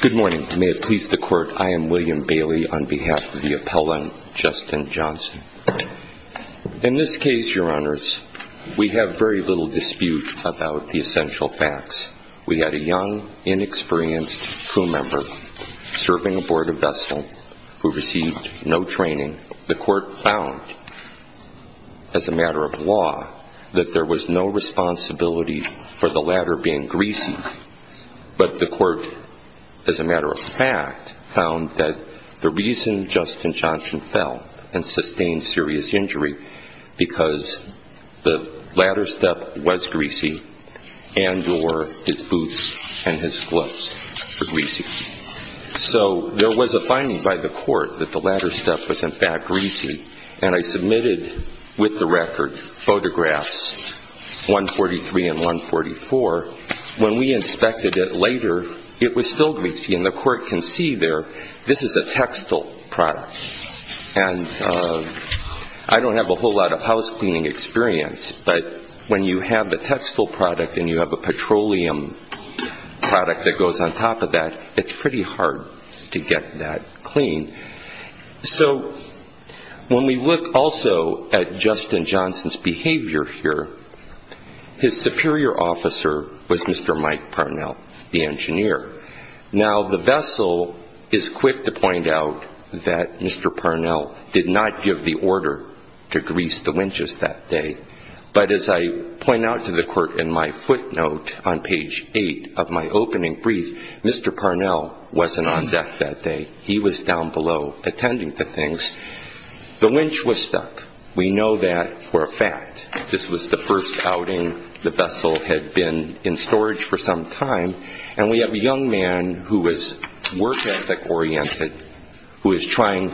Good morning. May it please the Court, I am William Bailey on behalf of the Appellant, Justin Johnson. In this case, Your Honors, we have very little dispute about the essential facts. We had a young, inexperienced crew member serving aboard a vessel who received no training. The Court found, as a matter of law, that there was no responsibility for the ladder being greasy, but the Court, as a matter of fact, found that the reason Justin Johnson fell and sustained serious injury was because the ladder step was greasy and or his boots and his gloves were greasy. So there was a finding by the Court that the floor, when we inspected it later, it was still greasy and the Court can see there this is a textile product. And I don't have a whole lot of house cleaning experience, but when you have a textile product and you have a petroleum product that goes on top of that, it's pretty hard to get that clean. So, when we look also at Justin Johnson's behavior here, his superior officer was Mr. Mike Parnell, the engineer. Now, the vessel is quick to point out that Mr. Parnell did not give the order to grease the winches that day, but as I point out to the Court in my footnote on page 8 of my opening brief, Mr. Parnell wasn't on deck that day. He was down below attending to things. The winch was stuck. We know that for a fact. This was the first outing the vessel had been in storage for some time, and we have a young man who was work ethic oriented, who was trying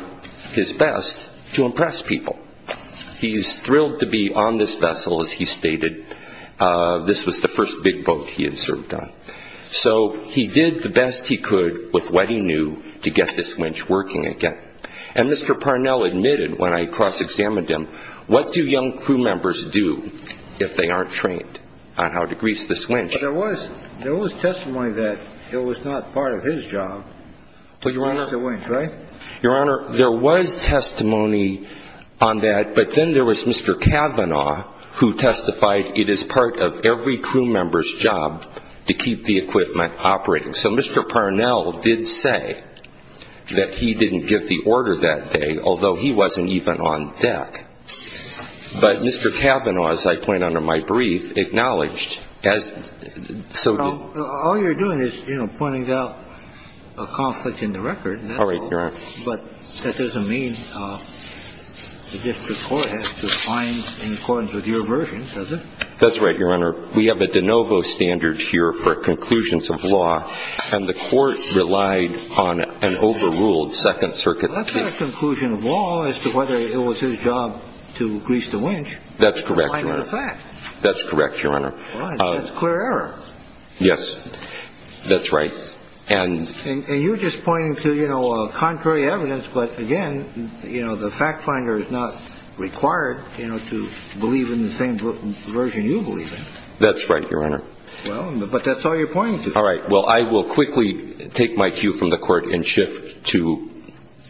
his best to impress people. He's thrilled to be on this vessel, as he stated. This was the first big boat he had served on. So he did the best he could with what he knew to get this winch working again. And Mr. Parnell admitted, when I cross-examined him, what do young crew members do if they aren't trained on how to grease this winch? But there was testimony that it was not part of his job to grease the winch, right? Your Honor, there was testimony on that, but then there was Mr. Cavanaugh who testified it is part of every crew member's job to keep the equipment operating. So Mr. Parnell did say that he didn't give the order that day, although he wasn't even on deck. But Mr. Cavanaugh, as I point out in my brief, acknowledged, as so did All you're doing is, you know, pointing out a conflict in the record. All right, Your Honor. But that doesn't mean the district court has to find in accordance with your version, does it? That's right, Your Honor. We have a de novo standard here for conclusions of law, and the court relied on an overruled Second Circuit. That's not a conclusion of law as to whether it was his job to grease the winch. That's correct, Your Honor. To find out a fact. That's correct, Your Honor. All right. That's clear error. Yes, that's right. And And you're just pointing to, you know, contrary evidence, but again, you know, the fact finder is not required, you know, to believe in the same version you believe in. That's right, Your Honor. Well, but that's all you're pointing to. All right. Well, I will quickly take my cue from the court and shift to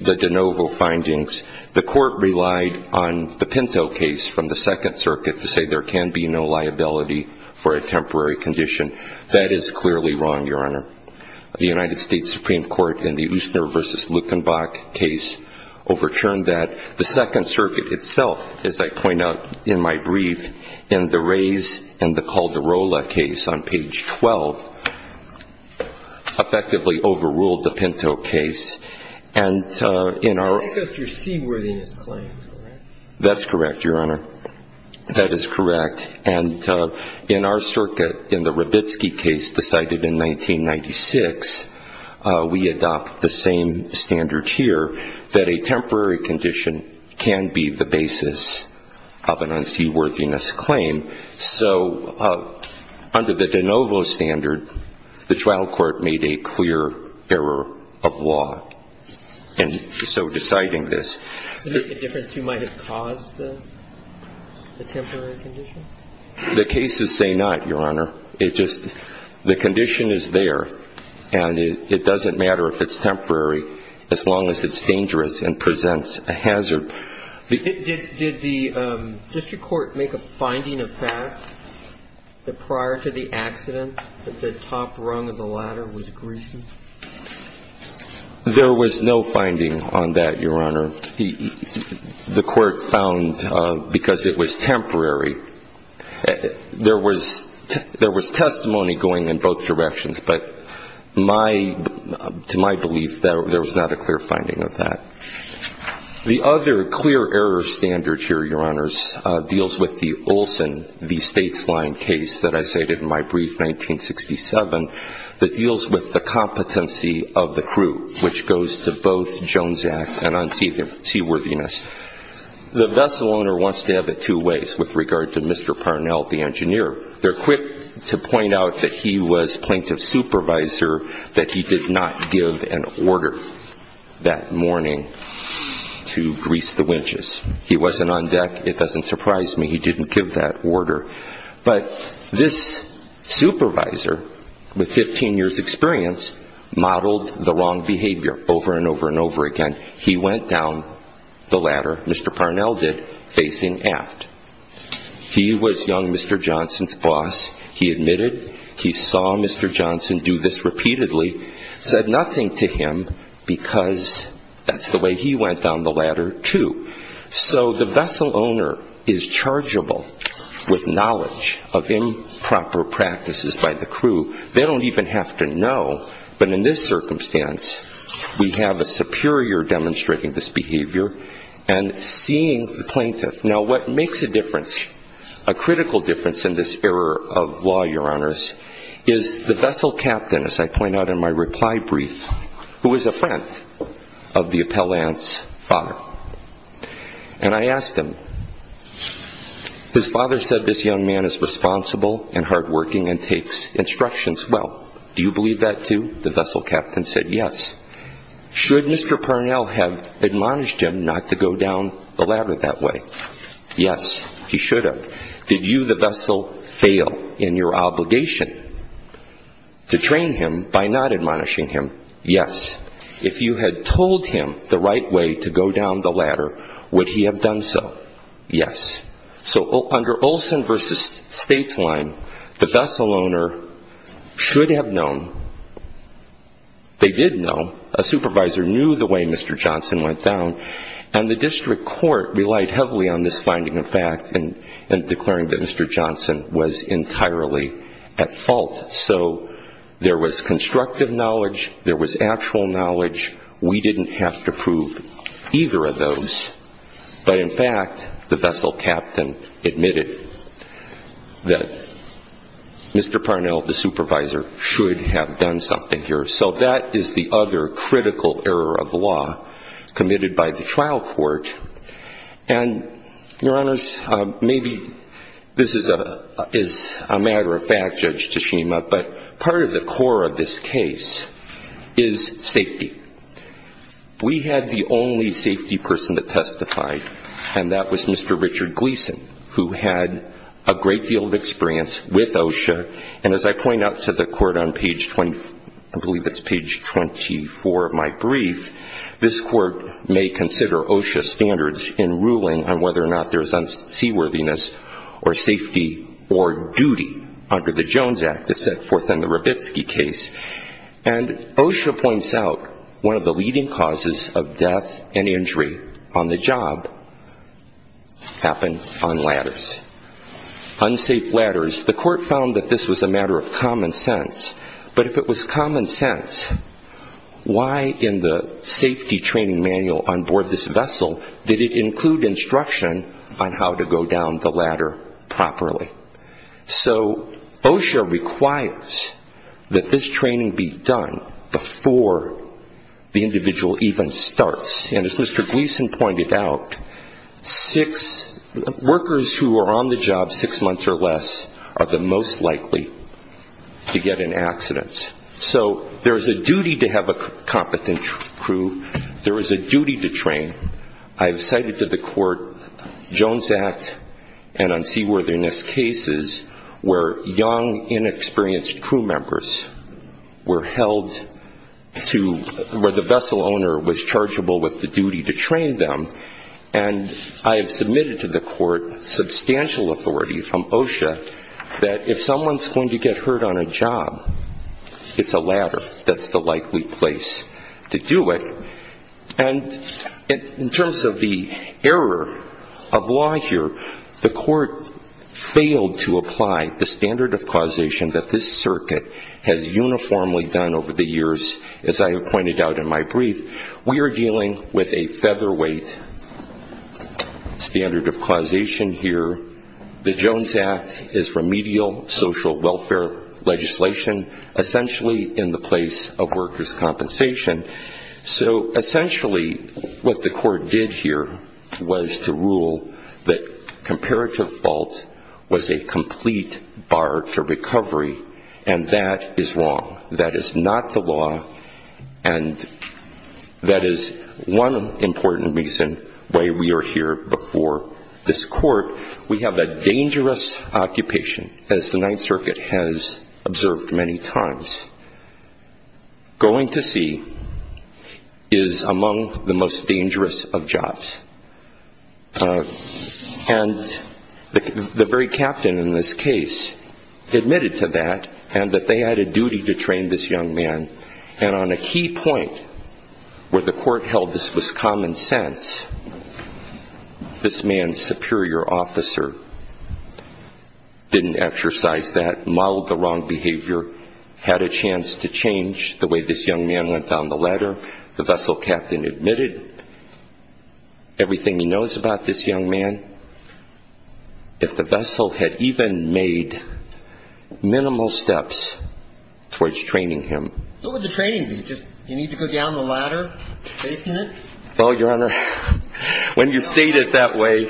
the de novo findings. The court relied on the Pinto case from the Second Circuit to say there can be no liability for a temporary condition. That is clearly wrong, Your Honor. The United States Supreme Court in the Ustner v. Lukenbach case overturned that. The Second Circuit itself, as I point out in my brief, in the Rays and the Calderola case on page 12, effectively overruled the Pinto case. And in our I think that's your seaworthiness claim, correct? That's correct, Your Honor. That is correct. And in our circuit, in the Rabitsky case decided in 1996, we adopt the same standards here, that a temporary condition can be the basis of an unseaworthiness claim. So under the de novo standard, the trial court made a clear error of law. And so deciding this Is it a difference who might have caused the temporary condition? The cases say not, Your Honor. It just the condition is there. And it doesn't matter if it's temporary as long as it's dangerous and presents a hazard. Did the district court make a finding of fact that prior to the accident, that the top rung of the ladder was greasy? There was no finding on that, Your Honor. The court found because it was temporary There was testimony going in both directions, but to my belief, there was not a clear finding of that. The other clear error standard here, Your Honors, deals with the Olson v. Statesline case that I stated in my brief 1967, that deals with the competency of the crew, which goes to both Jones Act and unseaworthiness. The vessel owner wants to have it two ways with regard to Mr. Parnell, the engineer. They're quick to point out that he was plaintiff's supervisor, that he did not give an order that morning to grease the winches. He wasn't on deck. It doesn't surprise me he didn't give that order. But this supervisor, with 15 years experience, modeled the wrong behavior over and over and over again. He went down the ladder, Mr. Parnell did, facing aft. He was young Mr. Johnson's boss. He admitted he saw Mr. Johnson do this repeatedly, said nothing to him because that's the way he went down the ladder, too. So the vessel owner is chargeable with knowledge of improper practices by the crew. They don't even have to know, but in this circumstance, we have a superior demonstrating this behavior and seeing the plaintiff. Now, what makes a difference, a critical difference in this error of law, Your Honors, is the vessel captain, as I point out in my reply brief, who was a friend of the appellant's father. And I asked him, his father said this young man is responsible and hardworking and takes instructions well. Do you believe that, too? The vessel captain said yes. Should Mr. Parnell have admonished him not to go down the ladder that way? Yes, he should have. Did you, the vessel, fail in your obligation to train him by not admonishing him? Yes. If you had told him the right way to go down the ladder, would he have done so? Yes. So under Olson v. Statesline, the vessel owner should have known. They did know. A supervisor knew the way Mr. Johnson went down. And the district court relied heavily on this finding of fact and declaring that Mr. Johnson was entirely at fault. So there was constructive knowledge. There was actual knowledge. We didn't have to prove either of those. But in fact, the vessel captain admitted that Mr. Parnell, the supervisor, should have done something here. So that is the other critical error of law committed by the trial court. And, Your Honors, maybe this is a matter of fact, Judge Tshishima, but part of the core of this case is safety. We had the only safety person that testified, and that was Mr. Richard Gleason, who had a great deal of experience with OSHA. And as I point out to the court on page 20, I believe it's page 24 of my brief, this court may consider OSHA standards in ruling on whether or not there is unseaworthiness or safety or duty under the Jones Act, as set forth in the Rabitsky case. And OSHA points out one of the leading causes of death and injury on the job happened on ladders. Unsafe ladders. The court found that this was a matter of common sense. But if it was common sense, why in the safety training manual on board this vessel did it include instruction on how to go down the ladder properly? So OSHA requires that this training be done before the individual even starts. And as Mr. Gleason pointed out, workers who are on the job six months or less are the most likely to get in accidents. So there is a duty to have a unseaworthiness cases where young, inexperienced crew members were held to where the vessel owner was chargeable with the duty to train them. And I have submitted to the court substantial authority from OSHA that if someone is going to get hurt on a job, it's a ladder that's the likely place to do it. And in terms of the error of law here, the court failed to apply the standard of causation that this circuit has uniformly done over the years, as I have pointed out in my brief. We are dealing with a featherweight standard of causation here. The Jones Act is remedial social welfare legislation, essentially in the place of workers' compensation. So essentially what the court did here was to rule that comparative fault was a complete bar to recovery. And that is wrong. That is not the law. And that is one important reason why we are here before this court. We have a dangerous occupation as the Ninth Circuit has observed many times. Going to sea is among the most dangerous of jobs. And the very captain in this case admitted to that and that they had a duty to train this young man. And on a key point where the court held this was common sense, this man's had a chance to change the way this young man went down the ladder. The vessel captain admitted everything he knows about this young man. If the vessel had even made minimal steps towards training him. So what would the training be? Just you need to go down the ladder, facing it? Oh, Your Honor, when you state it that way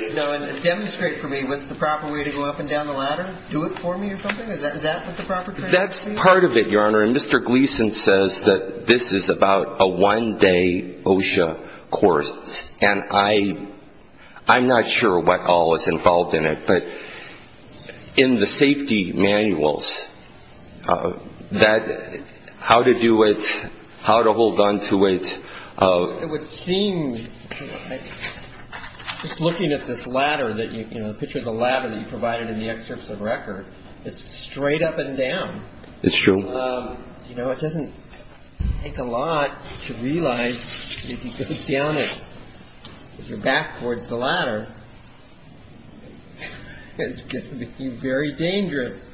Demonstrate for me what's the proper way to go up and down the ladder. Do it for me or something? Is that what the proper training would be? That's part of it, Your Honor. And Mr. Gleason says that this is about a one-day OSHA course. And I'm not sure what all is involved in it. But in the safety manuals, how to do it, how to hold on to it. It would seem, just looking at this ladder that you, you know, the picture of the ladder that you provided in the excerpts of record, it's straight up and down. It's true. You know, it doesn't take a lot to realize if you go down it, if you're back towards the ladder, it's going to be very dangerous.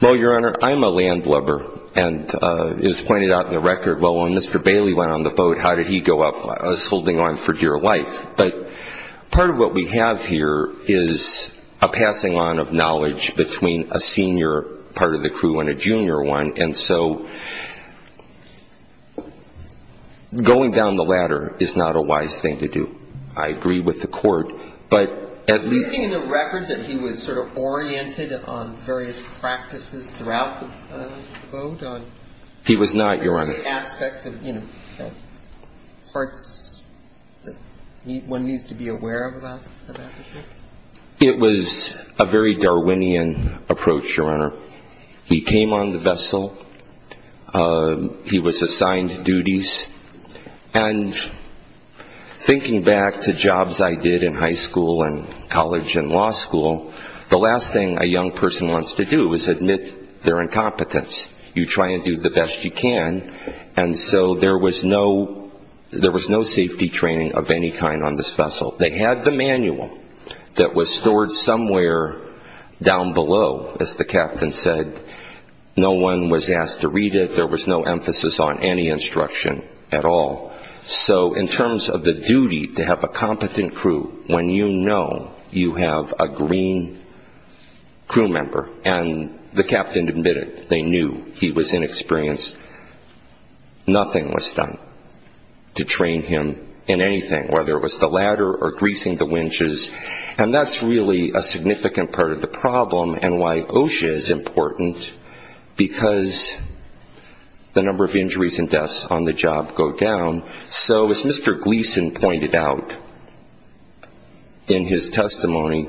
Well, Your Honor, I'm a landlubber. And it is pointed out in the record, well, when Mr. Bailey went on the boat, how did he go up? I was holding on for dear life. But part of what we have here is a passing on of knowledge between a senior part of the crew and a junior one. And so going down the ladder is not a wise thing to do. I agree with the court. But at least Do you think in the record that he was sort of oriented on various practices throughout the boat? He was not, Your Honor. Were there aspects of, you know, parts that one needs to be aware of about the ship? It was a very Darwinian approach, Your Honor. He came on the vessel. He was assigned duties. And thinking back to jobs I did in high school and college and law school, the last thing a young person wants to do is admit their incompetence. You try and do the best you can. And so there was no safety training of any kind on this vessel. They had the manual that was stored somewhere down below, as the captain said. No one was asked to read it. There was no emphasis on any instruction at all. So in terms of the duty to have a competent crew, when you know you have a green crew member and the captain admitted they knew he was inexperienced, nothing was done to train him in anything, whether it was the ladder or greasing the winches. And that's really a significant part of the problem and why OSHA is important, because the number of injuries and deaths on the job go down. So as Mr. Gleason pointed out in his testimony,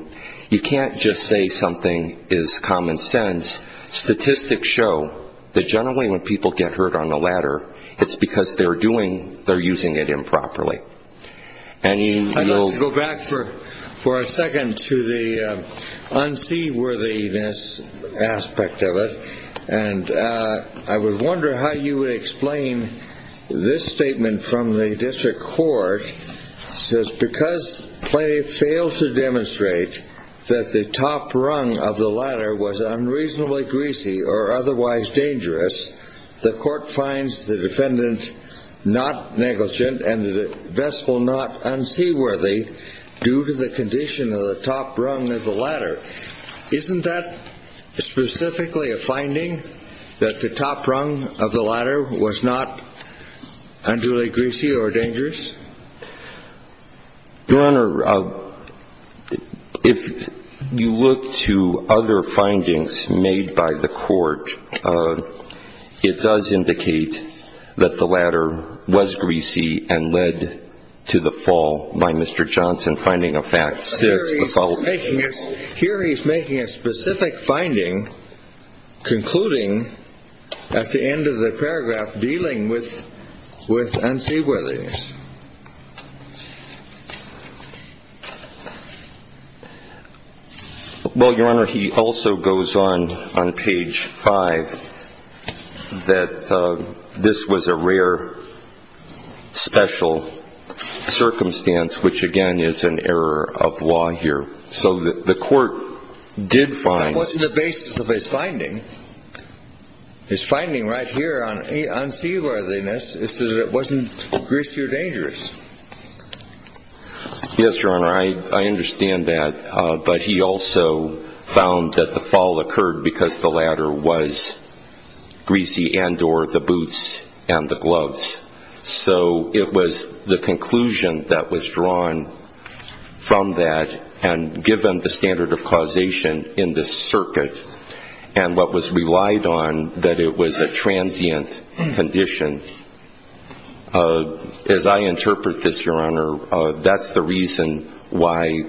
you can't just say something is common sense. Statistics show that generally when people get hurt on the ladder, it's because they're doing, they're using it improperly. I'd like to go back for a second to the unseaworthiness aspect of it. And I would wonder how you would explain this statement from the district court. It says, because Clay failed to demonstrate that the top rung of the ladder was unreasonably greasy or otherwise dangerous, the court finds the defendant not negligent and the vessel not unseaworthy due to the condition of the top rung of the ladder. Isn't that specifically a finding, that the top rung of the ladder was not unduly greasy or dangerous? Your Honor, if you look to other findings made by the court, it does indicate that the ladder was greasy and led to the fall by Mr. Johnson. Here he's making a specific finding, concluding at the end of the paragraph, dealing with unseaworthiness. Well, Your Honor, he also goes on, on page 5, that this was a rare special circumstance, which again is an error of law here. That wasn't the basis of his finding. His finding right here on unseaworthiness is that it wasn't greasy or dangerous. Yes, Your Honor, I understand that. But he also found that the fall occurred because the ladder was greasy and or the boots and the gloves. So it was the conclusion that was drawn from that, and given the standard of causation in this circuit, and what was relied on, that it was a transient condition. As I interpret this, Your Honor, that's the reason why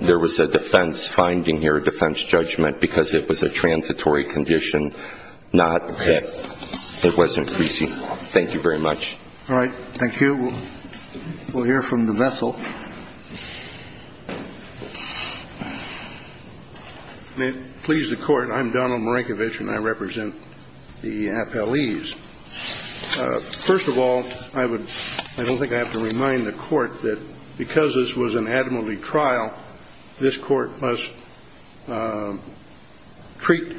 there was a defense finding here, a defense judgment, because it was a transitory condition, not that it was greasy. Thank you very much. All right. Thank you. We'll hear from the vessel. May it please the Court, I'm Donald Marankovich, and I represent the appellees. First of all, I don't think I have to remind the Court that because this was an admiralty trial, this Court must treat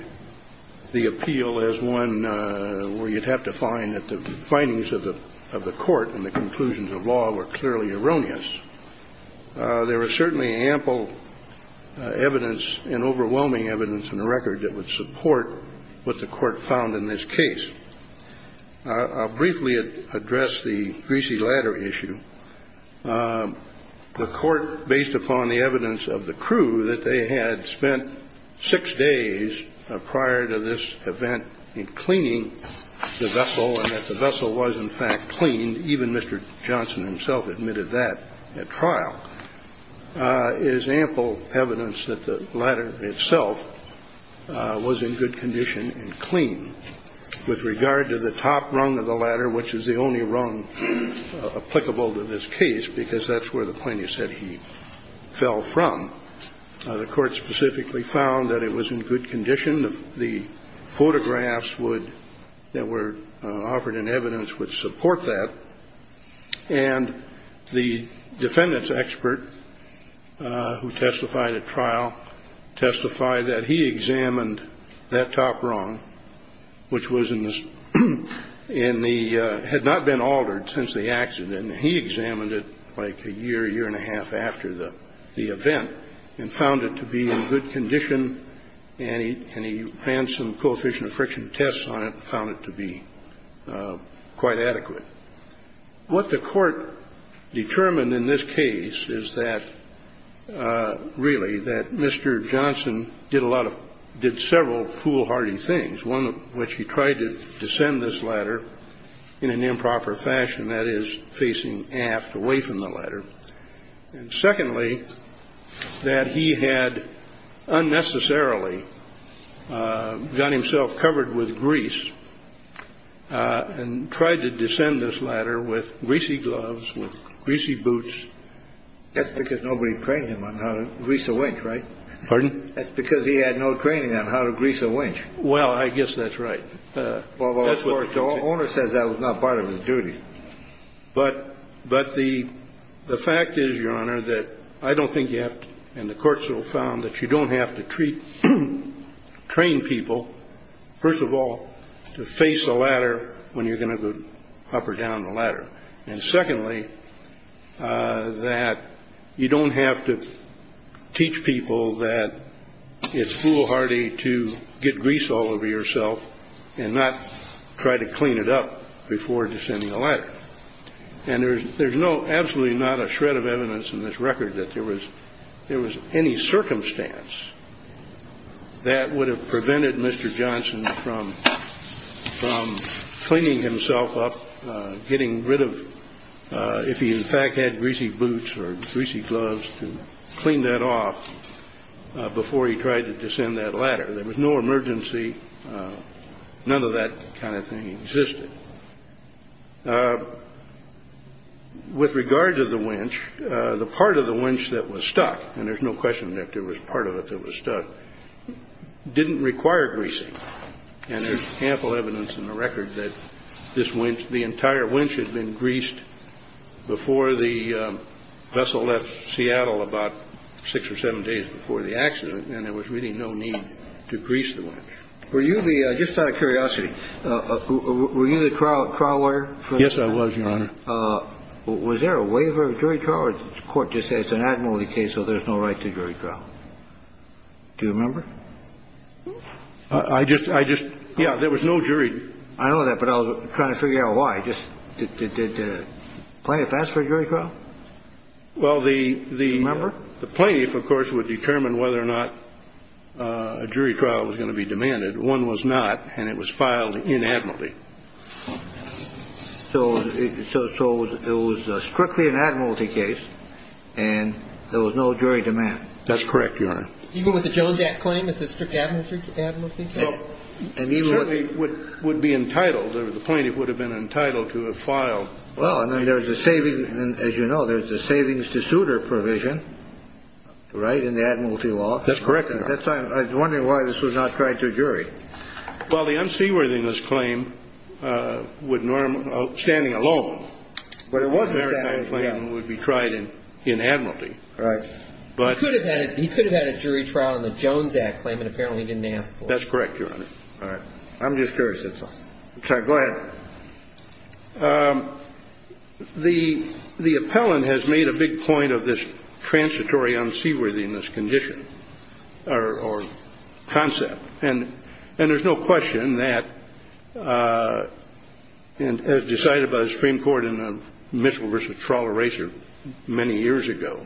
the appeal as one where you'd have to find that the findings of the Court and the conclusions of law were clearly erroneous. There was certainly ample evidence and overwhelming evidence in the record that would support what the Court found in this case. I'll briefly address the greasy ladder issue. The Court, based upon the evidence of the crew that they had spent six days prior to this event in cleaning the vessel, and that the vessel was, in fact, cleaned, even Mr. Johnson himself admitted that at trial, is ample evidence that the ladder itself was in good condition and clean. With regard to the top rung of the ladder, which is the only rung applicable to this case, because that's where the plaintiff said he fell from, the Court specifically found that it was in good condition. The photographs that were offered in evidence would support that. And the defendant's expert, who testified at trial, testified that he examined that top rung, which was in the, had not been altered since the accident, and he examined it like a year, year and a half after the event, and found it to be in good condition, and he ran some coefficient of friction tests on it and found it to be quite adequate. What the Court determined in this case is that, really, that Mr. Johnson did a lot of, did several foolhardy things, one of which he tried to descend this ladder in an improper fashion, that is, facing aft, away from the ladder, and secondly, that he had unnecessarily got himself covered with grease and tried to descend this ladder with greasy gloves, with greasy boots. That's because nobody trained him on how to grease a winch, right? Pardon? That's because he had no training on how to grease a winch. Well, I guess that's right. Well, of course, the owner says that was not part of his duty. But the fact is, Your Honor, that I don't think you have to, and the Court still found that you don't have to train people, first of all, to face a ladder when you're going to go up or down the ladder, and secondly, that you don't have to teach people that it's foolhardy to get grease all over yourself and not try to clean it up before descending a ladder. And there's absolutely not a shred of evidence in this record that there was any circumstance that would have prevented Mr. Johnson from cleaning himself up, getting rid of, if he tried to descend that ladder. There was no emergency. None of that kind of thing existed. With regard to the winch, the part of the winch that was stuck, and there's no question that there was part of it that was stuck, didn't require greasing. And there's ample evidence in the record that this winch, the entire winch had been and there was really no need to grease the winch. Were you the, just out of curiosity, were you the trial lawyer? Yes, I was, Your Honor. Was there a waiver of jury trial, or did the Court just say it's an admiralty case, so there's no right to jury trial? Do you remember? I just, I just, yeah, there was no jury. I know that, but I was trying to figure out why. Did the plaintiff ask for a jury trial? Well, the plaintiff, of course, would determine whether or not a jury trial was going to be demanded. One was not, and it was filed in admiralty. So it was strictly an admiralty case, and there was no jury demand? That's correct, Your Honor. Even with the Jones Act claim, it's a strict admiralty case? Well, certainly would be entitled, the plaintiff would have been entitled to have filed. Well, and there's a saving, as you know, there's a savings to suitor provision, right, in the admiralty law? That's correct, Your Honor. I was wondering why this was not tried to a jury. Well, the unseaworthiness claim would normally, standing alone, but it was an admiralty claim that would be tried in admiralty. Right. He could have had a jury trial in the Jones Act claim, and apparently he didn't ask for it. That's correct, Your Honor. All right. I'm just curious, that's all. Go ahead. The appellant has made a big point of this transitory unseaworthiness condition or concept, and there's no question that, as decided by the Supreme Court in Mitchell v. Trawler Racer many years ago,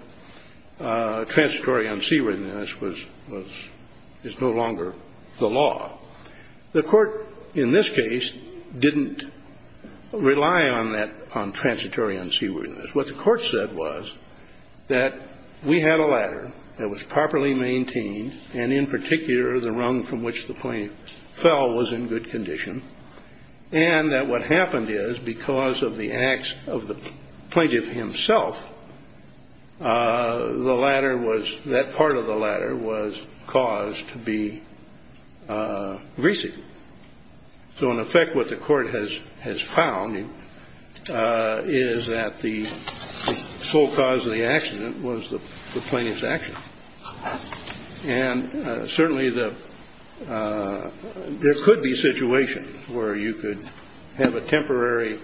transitory unseaworthiness is no longer the law. The court, in this case, didn't rely on transitory unseaworthiness. What the court said was that we had a ladder that was properly maintained, and in particular, the rung from which the plaintiff fell was in good condition, and that what happened is, because of the acts of the plaintiff himself, that part of the ladder was caused to be greasy. So, in effect, what the court has found is that the sole cause of the accident was the plaintiff's action. And certainly there could be situations where you could have a temporary,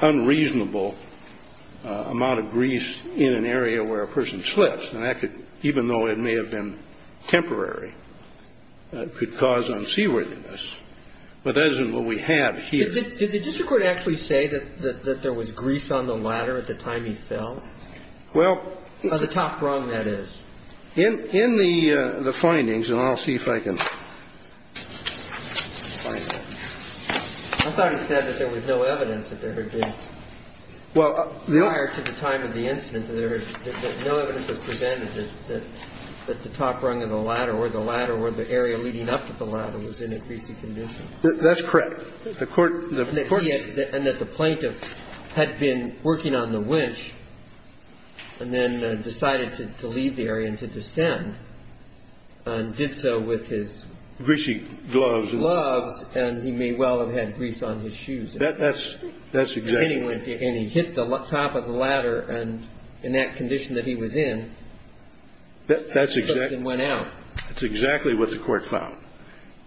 unreasonable amount of grease in an area where a person slips, and that could, even though it may have been temporary, could cause unseaworthiness, but that isn't what we have here. Did the district court actually say that there was grease on the ladder at the time he fell? Well... On the top rung, that is. In the findings, and I'll see if I can find it. I thought it said that there was no evidence that there had been prior to the time of the incident, that no evidence was presented that the top rung of the ladder or the ladder or the area leading up to the ladder was in a greasy condition. That's correct. The court... And that the plaintiff had been working on the winch and then decided to leave the area and to descend and did so with his... Greasy gloves. Gloves, and he may well have had grease on his shoes. That's exactly... And he hit the top of the ladder, and in that condition that he was in, he slipped and went out. That's exactly what the court found.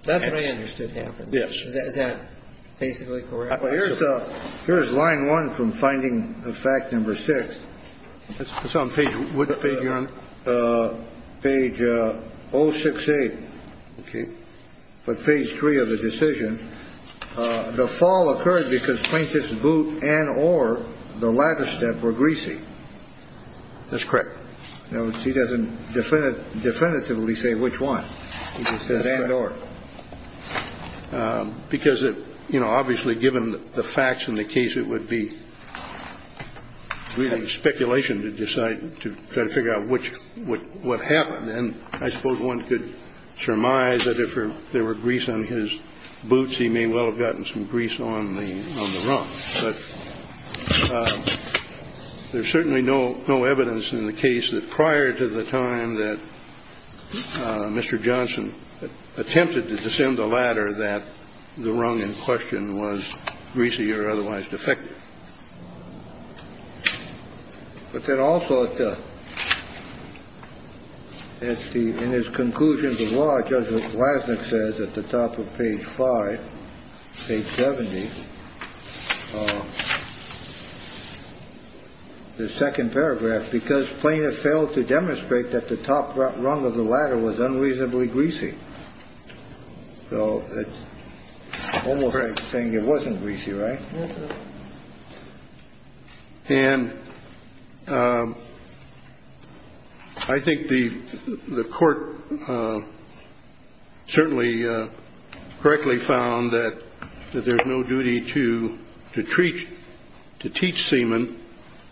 That's what I understood happened. Is that basically correct? Well, here's line one from finding fact number six. It's on page... Which page, Your Honor? Page 068. Okay. But page three of the decision, the fall occurred because plaintiff's boot and or the ladder step were greasy. That's correct. Now, he doesn't definitively say which one. He just says and or. Because, you know, obviously given the facts in the case, it would be really speculation to decide... To try to figure out which... What happened. And I suppose one could surmise that if there were grease on his boots, he may well have gotten some grease on the... On the run. But there's certainly no evidence in the case that prior to the time that Mr. Johnson attempted to descend the ladder, that the rung in question was greasy or otherwise defective. But then also it's the... In his conclusions of law, Judge Lasnik says at the top of page five, page 70. The second paragraph, because plaintiff failed to demonstrate that the top rung of the ladder was unreasonably greasy. So it's almost like saying it wasn't greasy, right? That's right. And I think the court certainly correctly found that there's no duty to teach seaman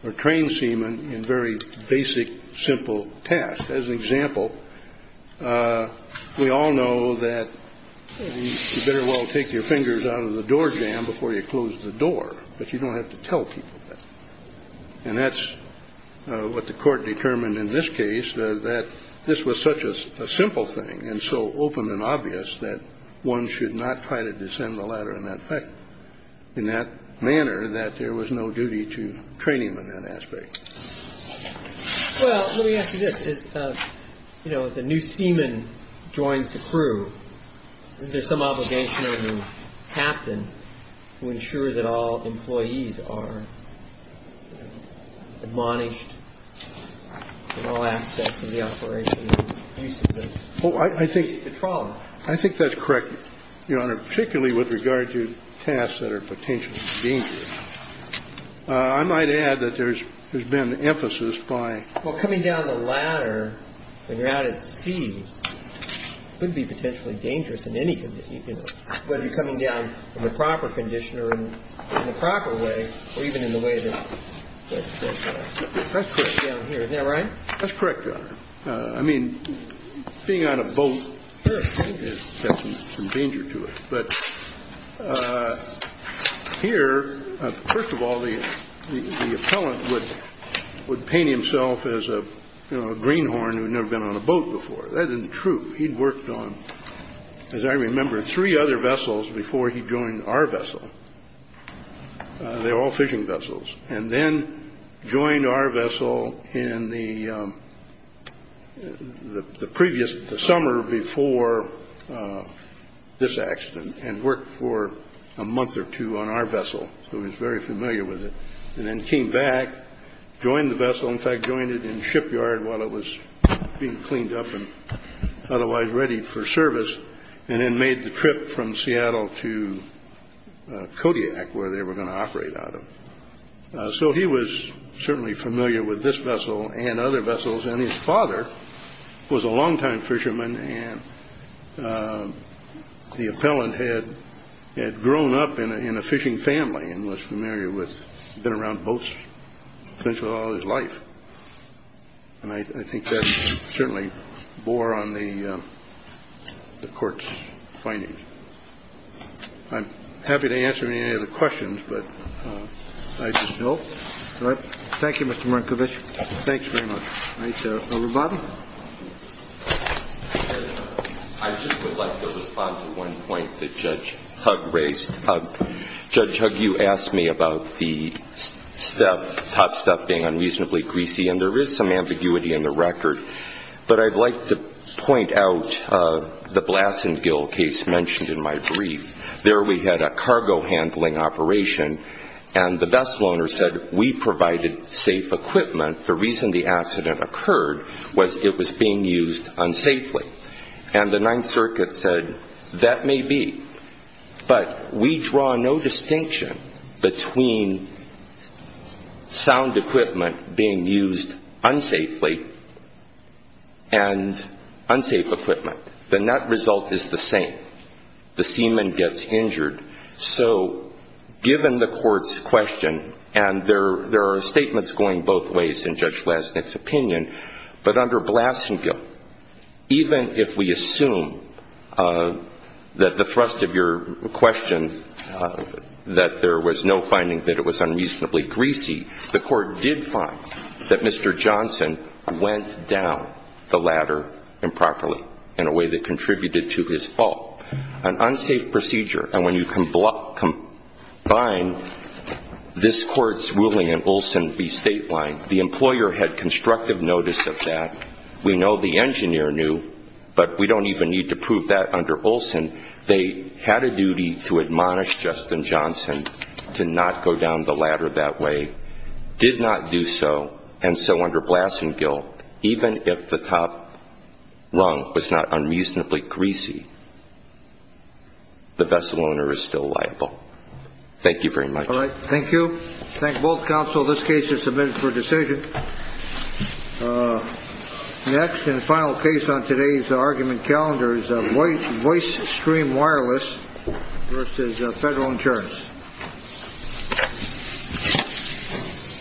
or train seaman in very basic, simple tasks. As an example, we all know that you better well take your fingers out of the door jamb before you close the door. But you don't have to tell people that. And that's what the court determined in this case, that this was such a simple thing and so open and obvious, that one should not try to descend the ladder in that manner, that there was no duty to train him in that aspect. Well, let me ask you this. You know, if a new seaman joins the crew, isn't there some obligation on the captain to ensure that all employees are admonished in all aspects of the operation and use of the patrol? I think that's correct, Your Honor, particularly with regard to tasks that are potentially dangerous. I might add that there's been emphasis by... When you're out at sea, it could be potentially dangerous in any condition, whether you're coming down in the proper condition or in the proper way or even in the way that... That's correct, Your Honor. I mean, being on a boat has some danger to it. But here, first of all, the appellant would paint himself as a greenhorn who had never been on a boat before. That isn't true. He'd worked on, as I remember, three other vessels before he joined our vessel. They were all fishing vessels. And then joined our vessel in the previous, the summer before this accident, and worked for a month or two on our vessel. So he was very familiar with it. And then came back, joined the vessel. In fact, joined it in the shipyard while it was being cleaned up and otherwise ready for service, and then made the trip from Seattle to Kodiak, where they were going to operate out of. So he was certainly familiar with this vessel and other vessels. And his father was a longtime fisherman. And the appellant had grown up in a fishing family and was familiar with... been around boats essentially all his life. And I think that certainly bore on the court's findings. I'm happy to answer any of the questions, but I just hope. All right. Thank you, Mr. Marinkovic. Thanks very much. All right. Over to Bob. I just would like to respond to one point that Judge Hugg raised. Judge Hugg, you asked me about the top stuff being unreasonably greasy. And there is some ambiguity in the record. But I'd like to point out the Blassen Gill case mentioned in my brief. There we had a cargo handling operation. And the vessel owner said, we provided safe equipment. The reason the accident occurred was it was being used unsafely. And the Ninth Circuit said, that may be. But we draw no distinction between sound equipment being used unsafely and unsafe equipment. The net result is the same. The seaman gets injured. So given the court's question, and there are statements going both ways in Judge Lesnik's opinion. But under Blassen Gill, even if we assume that the thrust of your question, that there was no finding that it was unreasonably greasy, the court did find that Mr. Johnson went down the ladder improperly in a way that contributed to his fall. An unsafe procedure. And when you combine this court's ruling and Olson v. Stateline, the employer had constructive notice of that. We know the engineer knew. But we don't even need to prove that under Olson. They had a duty to admonish Justin Johnson to not go down the ladder that way. Did not do so. And so under Blassen Gill, even if the top rung was not unreasonably greasy, the vessel owner is still liable. Thank you very much. All right. Thank you. Thank both counsel. This case is submitted for decision. Next and final case on today's argument calendar is Voice Stream Wireless v. Federal Insurance.